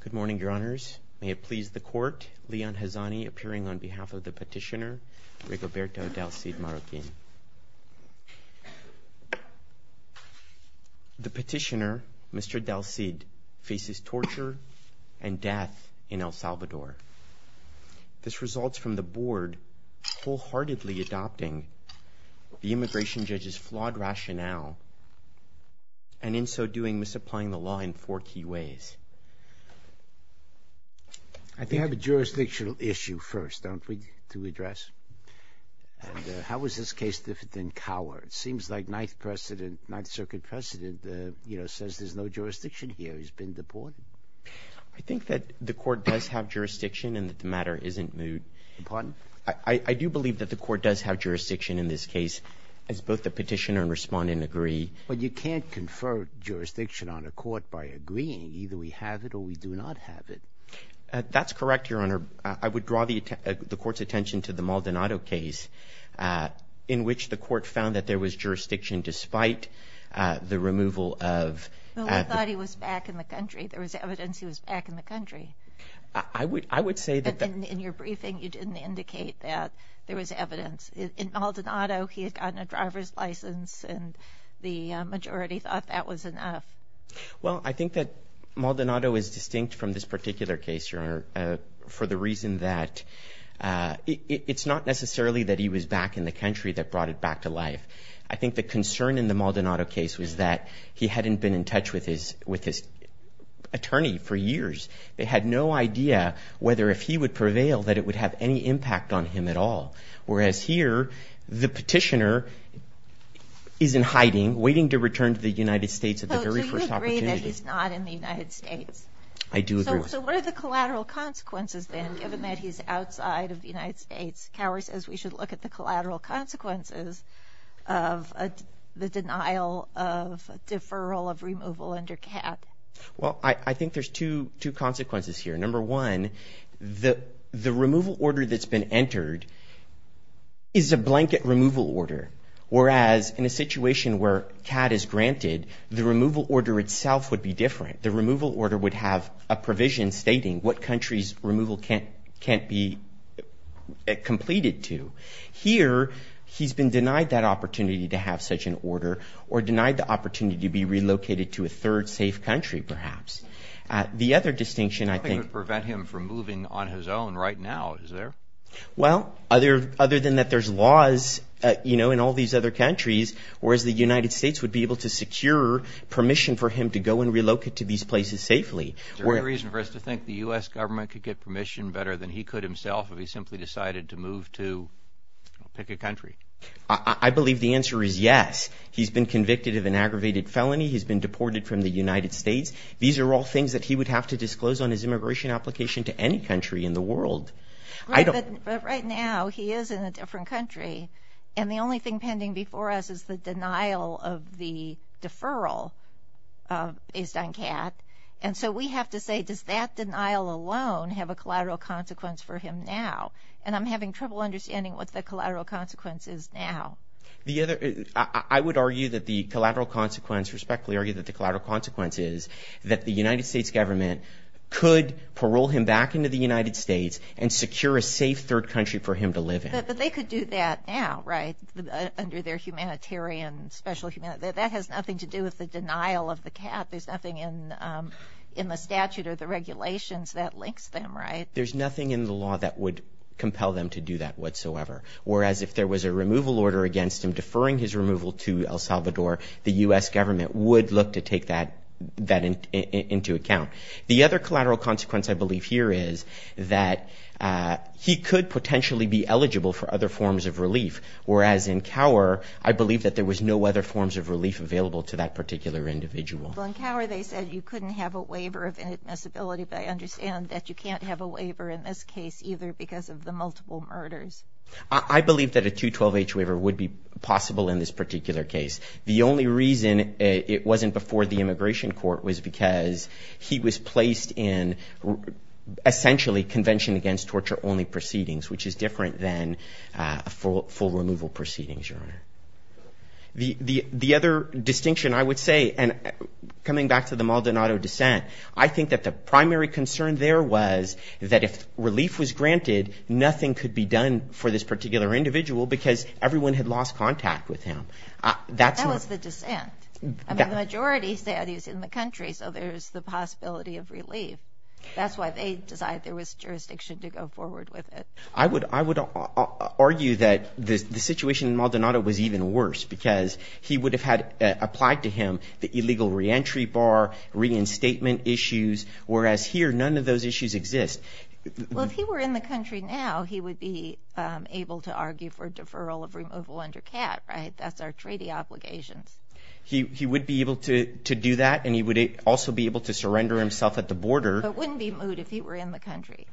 Good morning, your honors. May it please the court, Leon Hazani appearing on behalf of the petitioner, Rigoberto Del Cid Marroquin. The petitioner, Mr. Del Cid, faces torture and death in El Salvador. This results from the board wholeheartedly adopting the immigration judge's flawed rationale and in so doing, misapplying the law in four key ways. I think... We have a jurisdictional issue first, don't we, to address? And how is this case different than Coward? It seems like Ninth Circuit precedent, you know, says there's no jurisdiction here. He's been deported. I think that the court does have jurisdiction and that the matter isn't moved. Pardon? I do believe that the court does have jurisdiction in this case as both the petitioner and respondent agree. But you can't confer jurisdiction on a court by agreeing. Either we have it or we do not have it. That's correct, your honor. I would draw the court's attention to the Maldonado case in which the court found that there was jurisdiction despite the removal of... Well, we thought he was back in the country. There was evidence he was back in the country. I would say that... In your briefing, you didn't indicate that there was evidence. In Maldonado, he had gotten a driver's license, and the majority thought that was enough. Well, I think that Maldonado is distinct from this particular case, your honor, for the reason that it's not necessarily that he was back in the country that brought it back to life. I think the concern in the Maldonado case was that he hadn't been in touch with his attorney for years. They had no idea whether if he would prevail that it would have any impact on him at all. Whereas here, the petitioner is in hiding, waiting to return to the United States at the very first opportunity. So do you agree that he's not in the United States? I do agree. So what are the collateral consequences then, given that he's outside of the United States? Cowher says we should look at the collateral consequences of the denial of deferral of removal under CAP. Well, I think there's two consequences here. Number one, the removal order that's been entered is a blanket removal order, whereas in a situation where CAD is granted, the removal order itself would be different. The removal order would have a provision stating what countries removal can't be completed to. Here, he's been denied that opportunity to have such an order or denied the opportunity to be relocated to a third safe country, perhaps. The other distinction I think- Nothing would prevent him from moving on his own right now, is there? Well, other than that there's laws, you know, in all these other countries, whereas the United States would be able to secure permission for him to go and relocate to these places safely. Is there any reason for us to think the U.S. government could get permission better than he could himself if he simply decided to move to pick a country? I believe the answer is yes. He's been convicted of an aggravated felony. He's been deported from the United States. These are all things that he would have to disclose on his immigration application to any country in the world. But right now, he is in a different country, and the only thing pending before us is the denial of the deferral based on CAD. And so we have to say, does that denial alone have a collateral consequence for him now? And I'm having trouble understanding what the collateral consequence is now. I would argue that the collateral consequence, respectfully argue that the collateral consequence is that the United States government could parole him back into the United States and secure a safe third country for him to live in. But they could do that now, right, under their humanitarian, special humanitarian. That has nothing to do with the denial of the CAD. There's nothing in the statute or the regulations that links them, right? There's nothing in the law that would compel them to do that whatsoever. Whereas if there was a removal order against him deferring his removal to El Salvador, the U.S. government would look to take that into account. The other collateral consequence I believe here is that he could potentially be eligible for other forms of relief, whereas in Cower, I believe that there was no other forms of relief available to that particular individual. Well, in Cower they said you couldn't have a waiver of inadmissibility, but I understand that you can't have a waiver in this case either because of the multiple murders. I believe that a 212H waiver would be possible in this particular case. The only reason it wasn't before the immigration court was because he was placed in essentially convention against torture only proceedings, which is different than full removal proceedings, Your Honor. The other distinction I would say, and coming back to the Maldonado dissent, I think that the primary concern there was that if relief was granted, nothing could be done for this particular individual because everyone had lost contact with him. That was the dissent. The majority said he was in the country, so there's the possibility of relief. That's why they decided there was jurisdiction to go forward with it. I would argue that the situation in Maldonado was even worse because he would have had applied to him the illegal reentry bar, reinstatement issues, whereas here none of those issues exist. Well, if he were in the country now, he would be able to argue for deferral of removal under CAT, right? That's our treaty obligations. He would be able to do that, and he would also be able to surrender himself at the border. But it wouldn't be moot if he were in the country.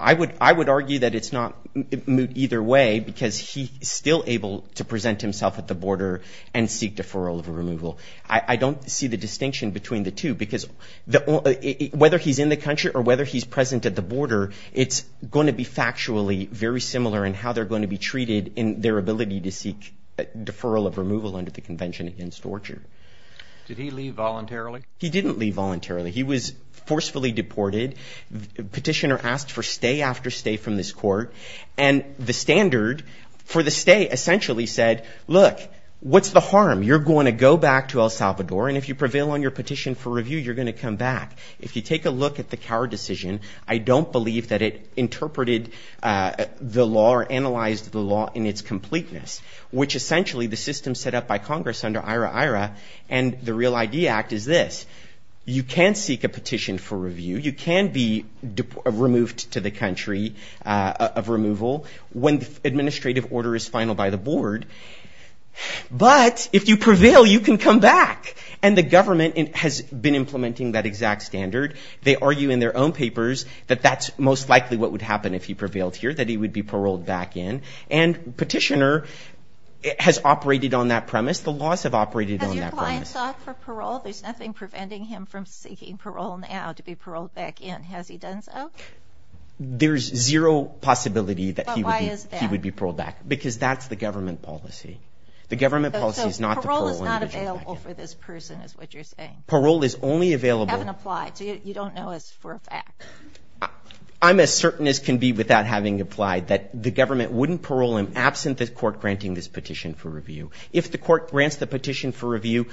I would argue that it's not moot either way because he's still able to present himself at the border and seek deferral of removal. I don't see the distinction between the two because whether he's in the country or whether he's present at the border, it's going to be factually very similar in how they're going to be treated in their ability to seek deferral of removal under the Convention Against Torture. Did he leave voluntarily? He didn't leave voluntarily. He was forcefully deported. Petitioner asked for stay after stay from this court, and the standard for the stay essentially said, look, what's the harm? You're going to go back to El Salvador, and if you prevail on your petition for review, you're going to come back. If you take a look at the Cower decision, I don't believe that it interpreted the law or analyzed the law in its completeness, which essentially the system set up by Congress under IRA-IRA and the Real ID Act is this. You can seek a petition for review. You can be removed to the country of removal when the administrative order is final by the board. But if you prevail, you can come back, and the government has been implementing that exact standard. They argue in their own papers that that's most likely what would happen if he prevailed here, that he would be paroled back in, and petitioner has operated on that premise. The laws have operated on that premise. Has your client sought for parole? There's nothing preventing him from seeking parole now to be paroled back in. Has he done so? But why is that? Because that's the government policy. The government policy is not to parole him. So parole is not available for this person is what you're saying? Parole is only available. You haven't applied, so you don't know as for a fact. I'm as certain as can be without having applied that the government wouldn't parole him absent the court granting this petition for review. If the court grants the petition for review,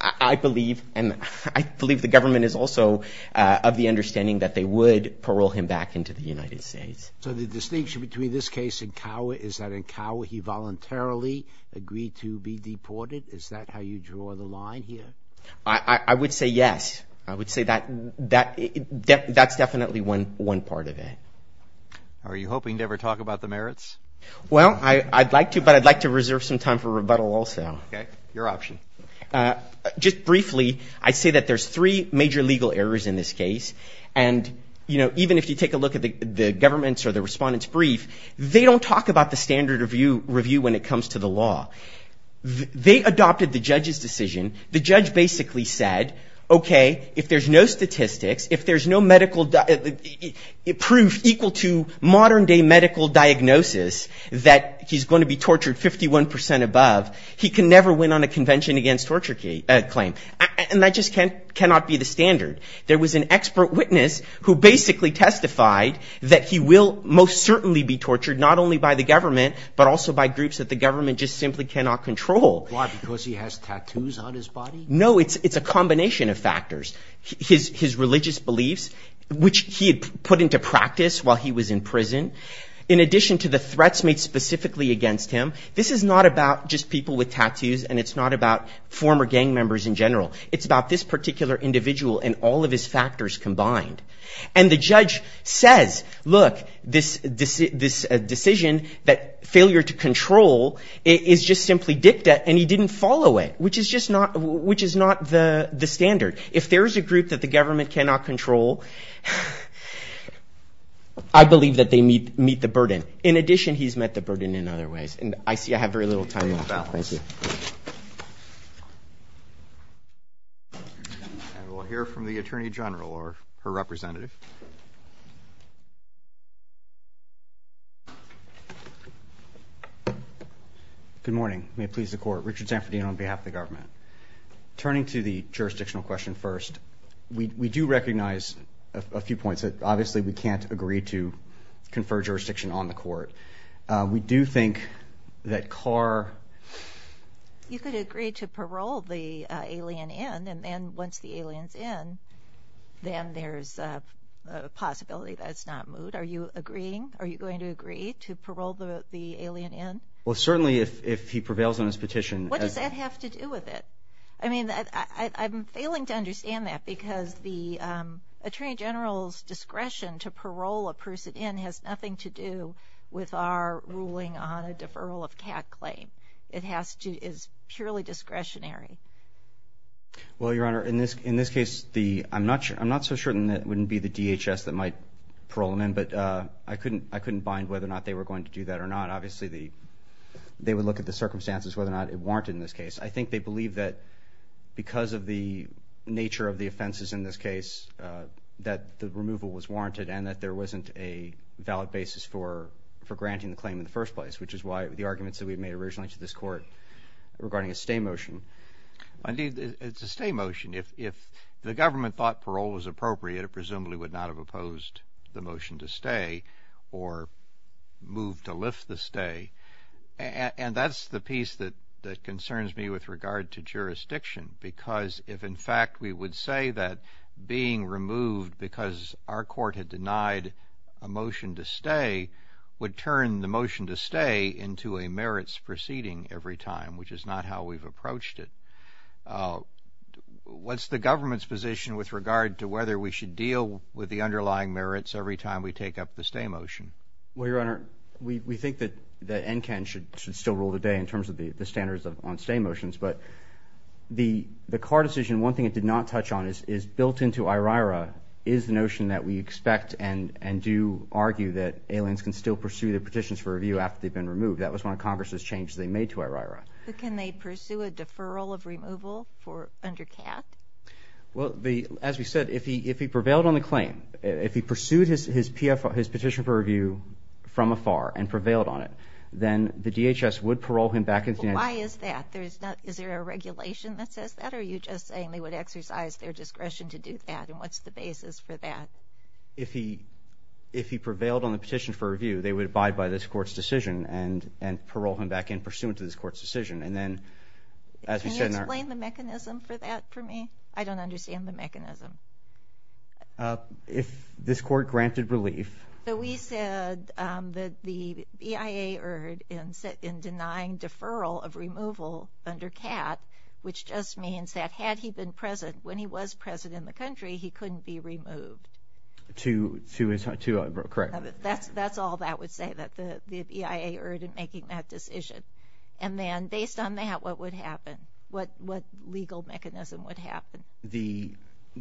I believe, and I believe the government is also of the understanding that they would parole him back into the United States. So the distinction between this case and Cower is that in Cower he voluntarily agreed to be deported? Is that how you draw the line here? I would say yes. I would say that's definitely one part of it. Are you hoping to ever talk about the merits? Well, I'd like to, but I'd like to reserve some time for rebuttal also. Okay. Your option. Just briefly, I'd say that there's three major legal errors in this case, and, you know, even if you take a look at the government's or the respondent's brief, they don't talk about the standard review when it comes to the law. They adopted the judge's decision. The judge basically said, okay, if there's no statistics, if there's no medical proof equal to modern day medical diagnosis that he's going to be tortured 51 percent above, he can never win on a convention against torture claim. And that just cannot be the standard. There was an expert witness who basically testified that he will most certainly be tortured not only by the government but also by groups that the government just simply cannot control. Why, because he has tattoos on his body? No, it's a combination of factors. His religious beliefs, which he had put into practice while he was in prison, in addition to the threats made specifically against him, this is not about just people with tattoos and it's not about former gang members in general. It's about this particular individual and all of his factors combined. And the judge says, look, this decision that failure to control is just simply dicta and he didn't follow it, which is just not the standard. If there's a group that the government cannot control, I believe that they meet the burden. In addition, he's met the burden in other ways. And I see I have very little time left. Thank you. We'll hear from the Attorney General or her representative. Good morning. May it please the Court. Richard Sanfordine on behalf of the government. Turning to the jurisdictional question first, we do recognize a few points. Obviously, we can't agree to confer jurisdiction on the Court. We do think that Carr. You could agree to parole the alien in and then once the alien's in, then there's a possibility that it's not moot. Are you agreeing? Are you going to agree to parole the alien in? Well, certainly if he prevails on his petition. What does that have to do with it? I mean, I'm failing to understand that because the Attorney General's discretion to parole a person in has nothing to do with our ruling on a deferral of CAT claim. It is purely discretionary. Well, Your Honor, in this case, I'm not so certain that it wouldn't be the DHS that might parole him in, but I couldn't bind whether or not they were going to do that or not. Obviously, they would look at the circumstances whether or not it warranted in this case. I think they believe that because of the nature of the offenses in this case, that the removal was warranted and that there wasn't a valid basis for granting the claim in the first place, which is why the arguments that we made originally to this Court regarding a stay motion. Indeed, it's a stay motion. If the government thought parole was appropriate, it presumably would not have opposed the motion to stay or moved to lift the stay, and that's the piece that concerns me with regard to jurisdiction because if, in fact, we would say that being removed because our court had denied a motion to stay would turn the motion to stay into a merits proceeding every time, which is not how we've approached it. What's the government's position with regard to whether we should deal with the underlying merits every time we take up the stay motion? Well, Your Honor, we think that NCAN should still rule today in terms of the standards on stay motions, but the Carr decision, one thing it did not touch on, is built into IRIRA is the notion that we expect and do argue that aliens can still pursue their petitions for review after they've been removed. That was one of Congress's changes they made to IRIRA. But can they pursue a deferral of removal under CAF? Well, as we said, if he prevailed on the claim, if he pursued his petition for review from afar and prevailed on it, then the DHS would parole him back into NCAN. Why is that? Is there a regulation that says that, or are you just saying they would exercise their discretion to do that, and what's the basis for that? If he prevailed on the petition for review, they would abide by this court's decision and parole him back in pursuant to this court's decision. Can you explain the mechanism for that for me? I don't understand the mechanism. If this court granted relief... So we said that the EIA erred in denying deferral of removal under CAF, which just means that had he been present when he was present in the country, he couldn't be removed. To his—correct. That's all that would say, that the EIA erred in making that decision. And then based on that, what would happen? What legal mechanism would happen?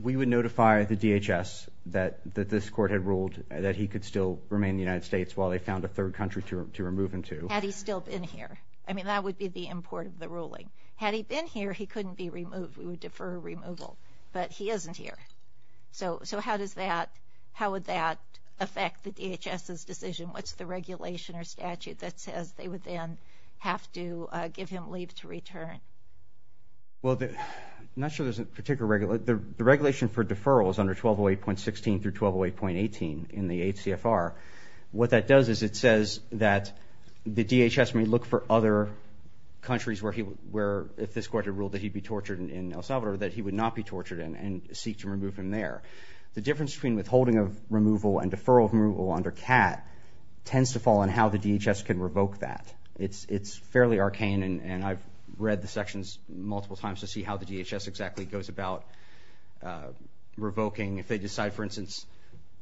We would notify the DHS that this court had ruled that he could still remain in the United States while they found a third country to remove him to. Had he still been here. I mean, that would be the import of the ruling. Had he been here, he couldn't be removed. We would defer removal. But he isn't here. So how would that affect the DHS's decision? What's the regulation or statute that says they would then have to give him leave to return? Well, I'm not sure there's a particular— the regulation for deferral is under 1208.16 through 1208.18 in the HCFR. What that does is it says that the DHS may look for other countries where he— if this court had ruled that he'd be tortured in El Salvador, that he would not be tortured and seek to remove him there. The difference between withholding of removal and deferral of removal under CAT tends to fall in how the DHS can revoke that. It's fairly arcane, and I've read the sections multiple times to see how the DHS exactly goes about revoking. If they decide, for instance,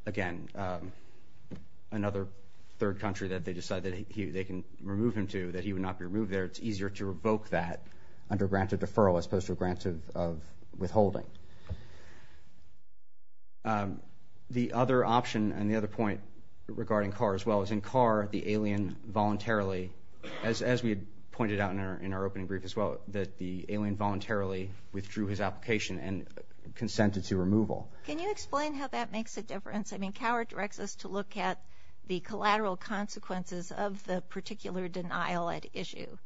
again, another third country, that they decide that they can remove him to, that he would not be removed there, it's easier to revoke that under grant of deferral as opposed to a grant of withholding. The other option and the other point regarding CAR as well, is in CAR, the alien voluntarily, as we had pointed out in our opening brief as well, that the alien voluntarily withdrew his application and consented to removal. Can you explain how that makes a difference? I mean, Coward directs us to look at the collateral consequences of the particular denial at issue.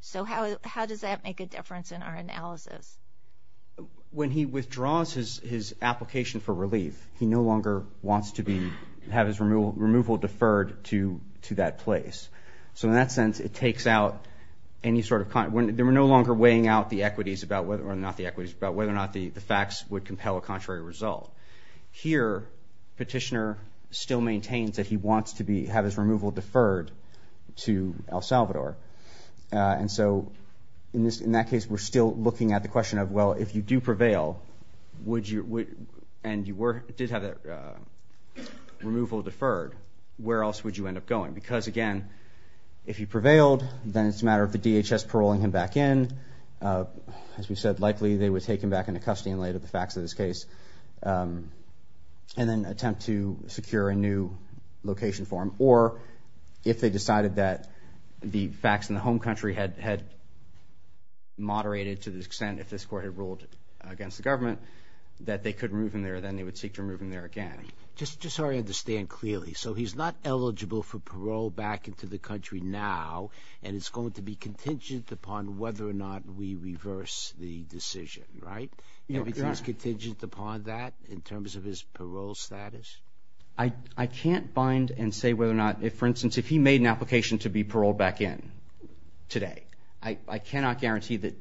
So how does that make a difference in our analysis? When he withdraws his application for relief, he no longer wants to have his removal deferred to that place. So in that sense, it takes out any sort of... We're no longer weighing out the equities about whether or not the facts would compel a contrary result. Here, petitioner still maintains that he wants to have his removal deferred to El Salvador. And so in that case, we're still looking at the question of, well, if you do prevail and you did have that removal deferred, where else would you end up going? Because again, if you prevailed, then it's a matter of the DHS paroling him back in. As we said, likely they would take him back into custody and lay the facts of this case and then attempt to secure a new location for him. Or if they decided that the facts in the home country had moderated to the extent if this court had ruled against the government that they could remove him there, then they would seek to remove him there again. Just so I understand clearly. So he's not eligible for parole back into the country now, and it's going to be contingent upon whether or not we reverse the decision, right? Everything is contingent upon that in terms of his parole status? I can't find and say whether or not... For instance, if he made an application to be paroled back in today, I cannot guarantee that...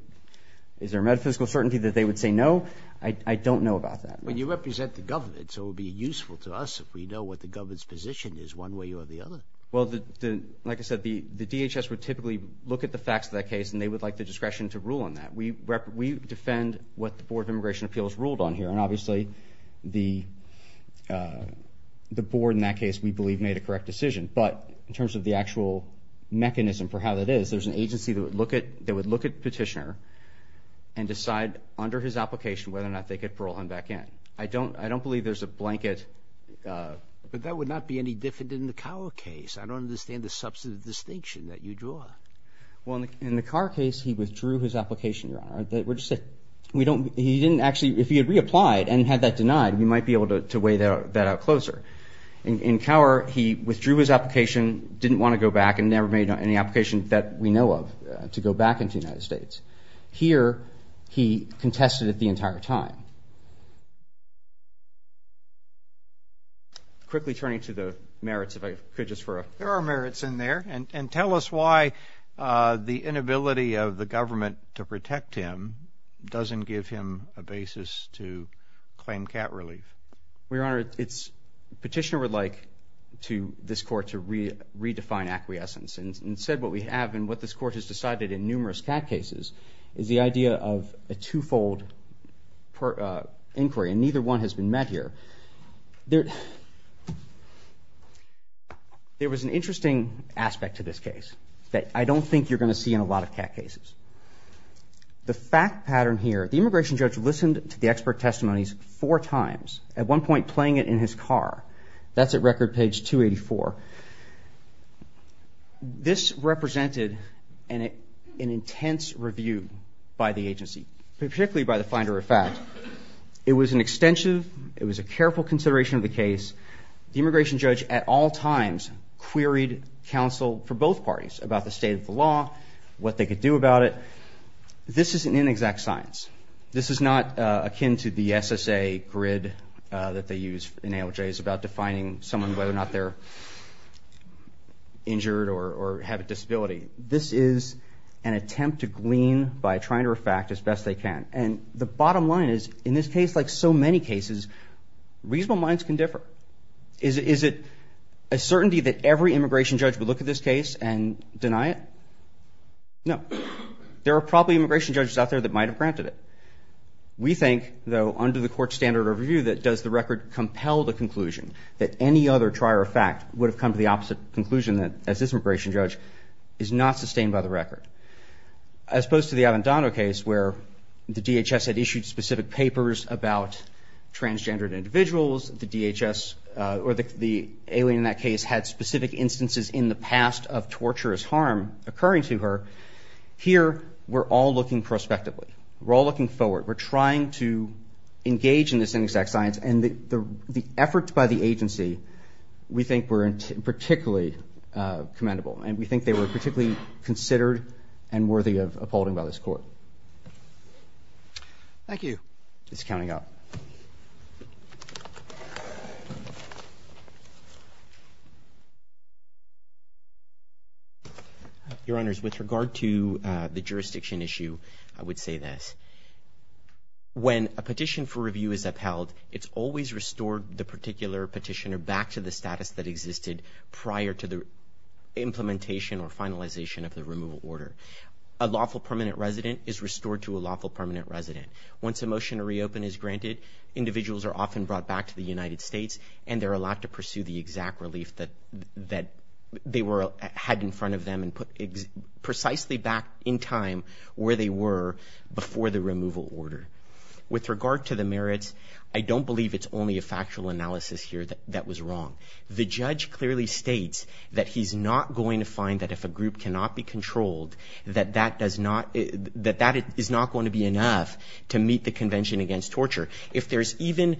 Is there metaphysical certainty that they would say no? I don't know about that. But you represent the government, so it would be useful to us if we know what the government's position is one way or the other. Well, like I said, the DHS would typically look at the facts of that case and they would like the discretion to rule on that. We defend what the Board of Immigration Appeals ruled on here, and obviously the board in that case we believe made a correct decision. But in terms of the actual mechanism for how that is, there's an agency that would look at Petitioner and decide under his application whether or not they could parole him back in. I don't believe there's a blanket... But that would not be any different in the Cower case. I don't understand the substantive distinction that you draw. Well, in the Cower case, he withdrew his application. We're just saying if he had reapplied and had that denied, we might be able to weigh that out closer. In Cower, he withdrew his application, didn't want to go back, and never made any application that we know of to go back into the United States. Here, he contested it the entire time. Quickly turning to the merits, if I could just for a... There are merits in there. And tell us why the inability of the government to protect him doesn't give him a basis to claim cat relief. Well, Your Honor, Petitioner would like this court to redefine acquiescence. Instead, what we have and what this court has decided in numerous cat cases is the idea of a twofold inquiry, and neither one has been met here. There was an interesting aspect to this case that I don't think you're going to see in a lot of cat cases. The fact pattern here, the immigration judge listened to the expert testimonies four times, at one point playing it in his car. That's at record page 284. This represented an intense review by the agency, particularly by the finder of fact. It was an extensive, it was a careful consideration of the case. The immigration judge at all times queried counsel for both parties about the state of the law, what they could do about it. This is an inexact science. This is not akin to the SSA grid that they use in ALJs about defining someone whether or not they're injured or have a disability. This is an attempt to glean by trying to refact as best they can. And the bottom line is, in this case, like so many cases, reasonable minds can differ. Is it a certainty that every immigration judge would look at this case and deny it? No. There are probably immigration judges out there that might have granted it. We think, though, under the court standard of review, that does the record compel the conclusion that any other trier of fact would have come to the opposite conclusion as this immigration judge is not sustained by the record. As opposed to the Avendano case where the DHS had issued specific papers about transgendered individuals, the DHS, or the alien in that case had specific instances in the past of torturous harm occurring to her, here we're all looking prospectively. We're all looking forward. We're trying to engage in this inexact science, and the efforts by the agency we think were particularly commendable, and we think they were particularly considered and worthy of upholding by this court. Thank you. This is County Court. Your Honors, with regard to the jurisdiction issue, I would say this. When a petition for review is upheld, it's always restored the particular petitioner back to the status that existed prior to the implementation or finalization of the removal order. A lawful permanent resident is restored to a lawful permanent resident. Once a motion to reopen is granted, individuals are often brought back to the United States, and they're allowed to pursue the exact relief that they had in front of them and put precisely back in time where they were before the removal order. With regard to the merits, I don't believe it's only a factual analysis here that was wrong. The judge clearly states that he's not going to find that if a group cannot be controlled, that that is not going to be enough to meet the Convention Against Torture. If there's even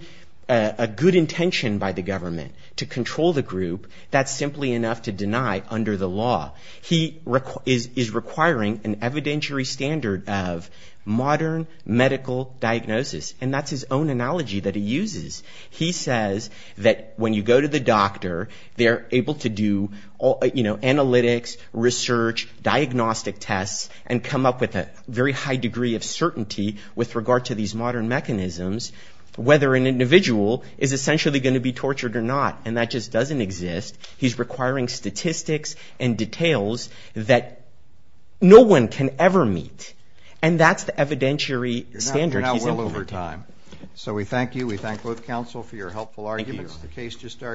a good intention by the government to control the group, that's simply enough to deny under the law. He is requiring an evidentiary standard of modern medical diagnosis, and that's his own analogy that he uses. He says that when you go to the doctor, they're able to do analytics, research, diagnostic tests, and come up with a very high degree of certainty with regard to these modern mechanisms, whether an individual is essentially going to be tortured or not, and that just doesn't exist. He's requiring statistics and details that no one can ever meet, and that's the evidentiary standard he's implementing. You're now well over time. So we thank you. We thank both counsel for your helpful arguments. Thank you. Thank you.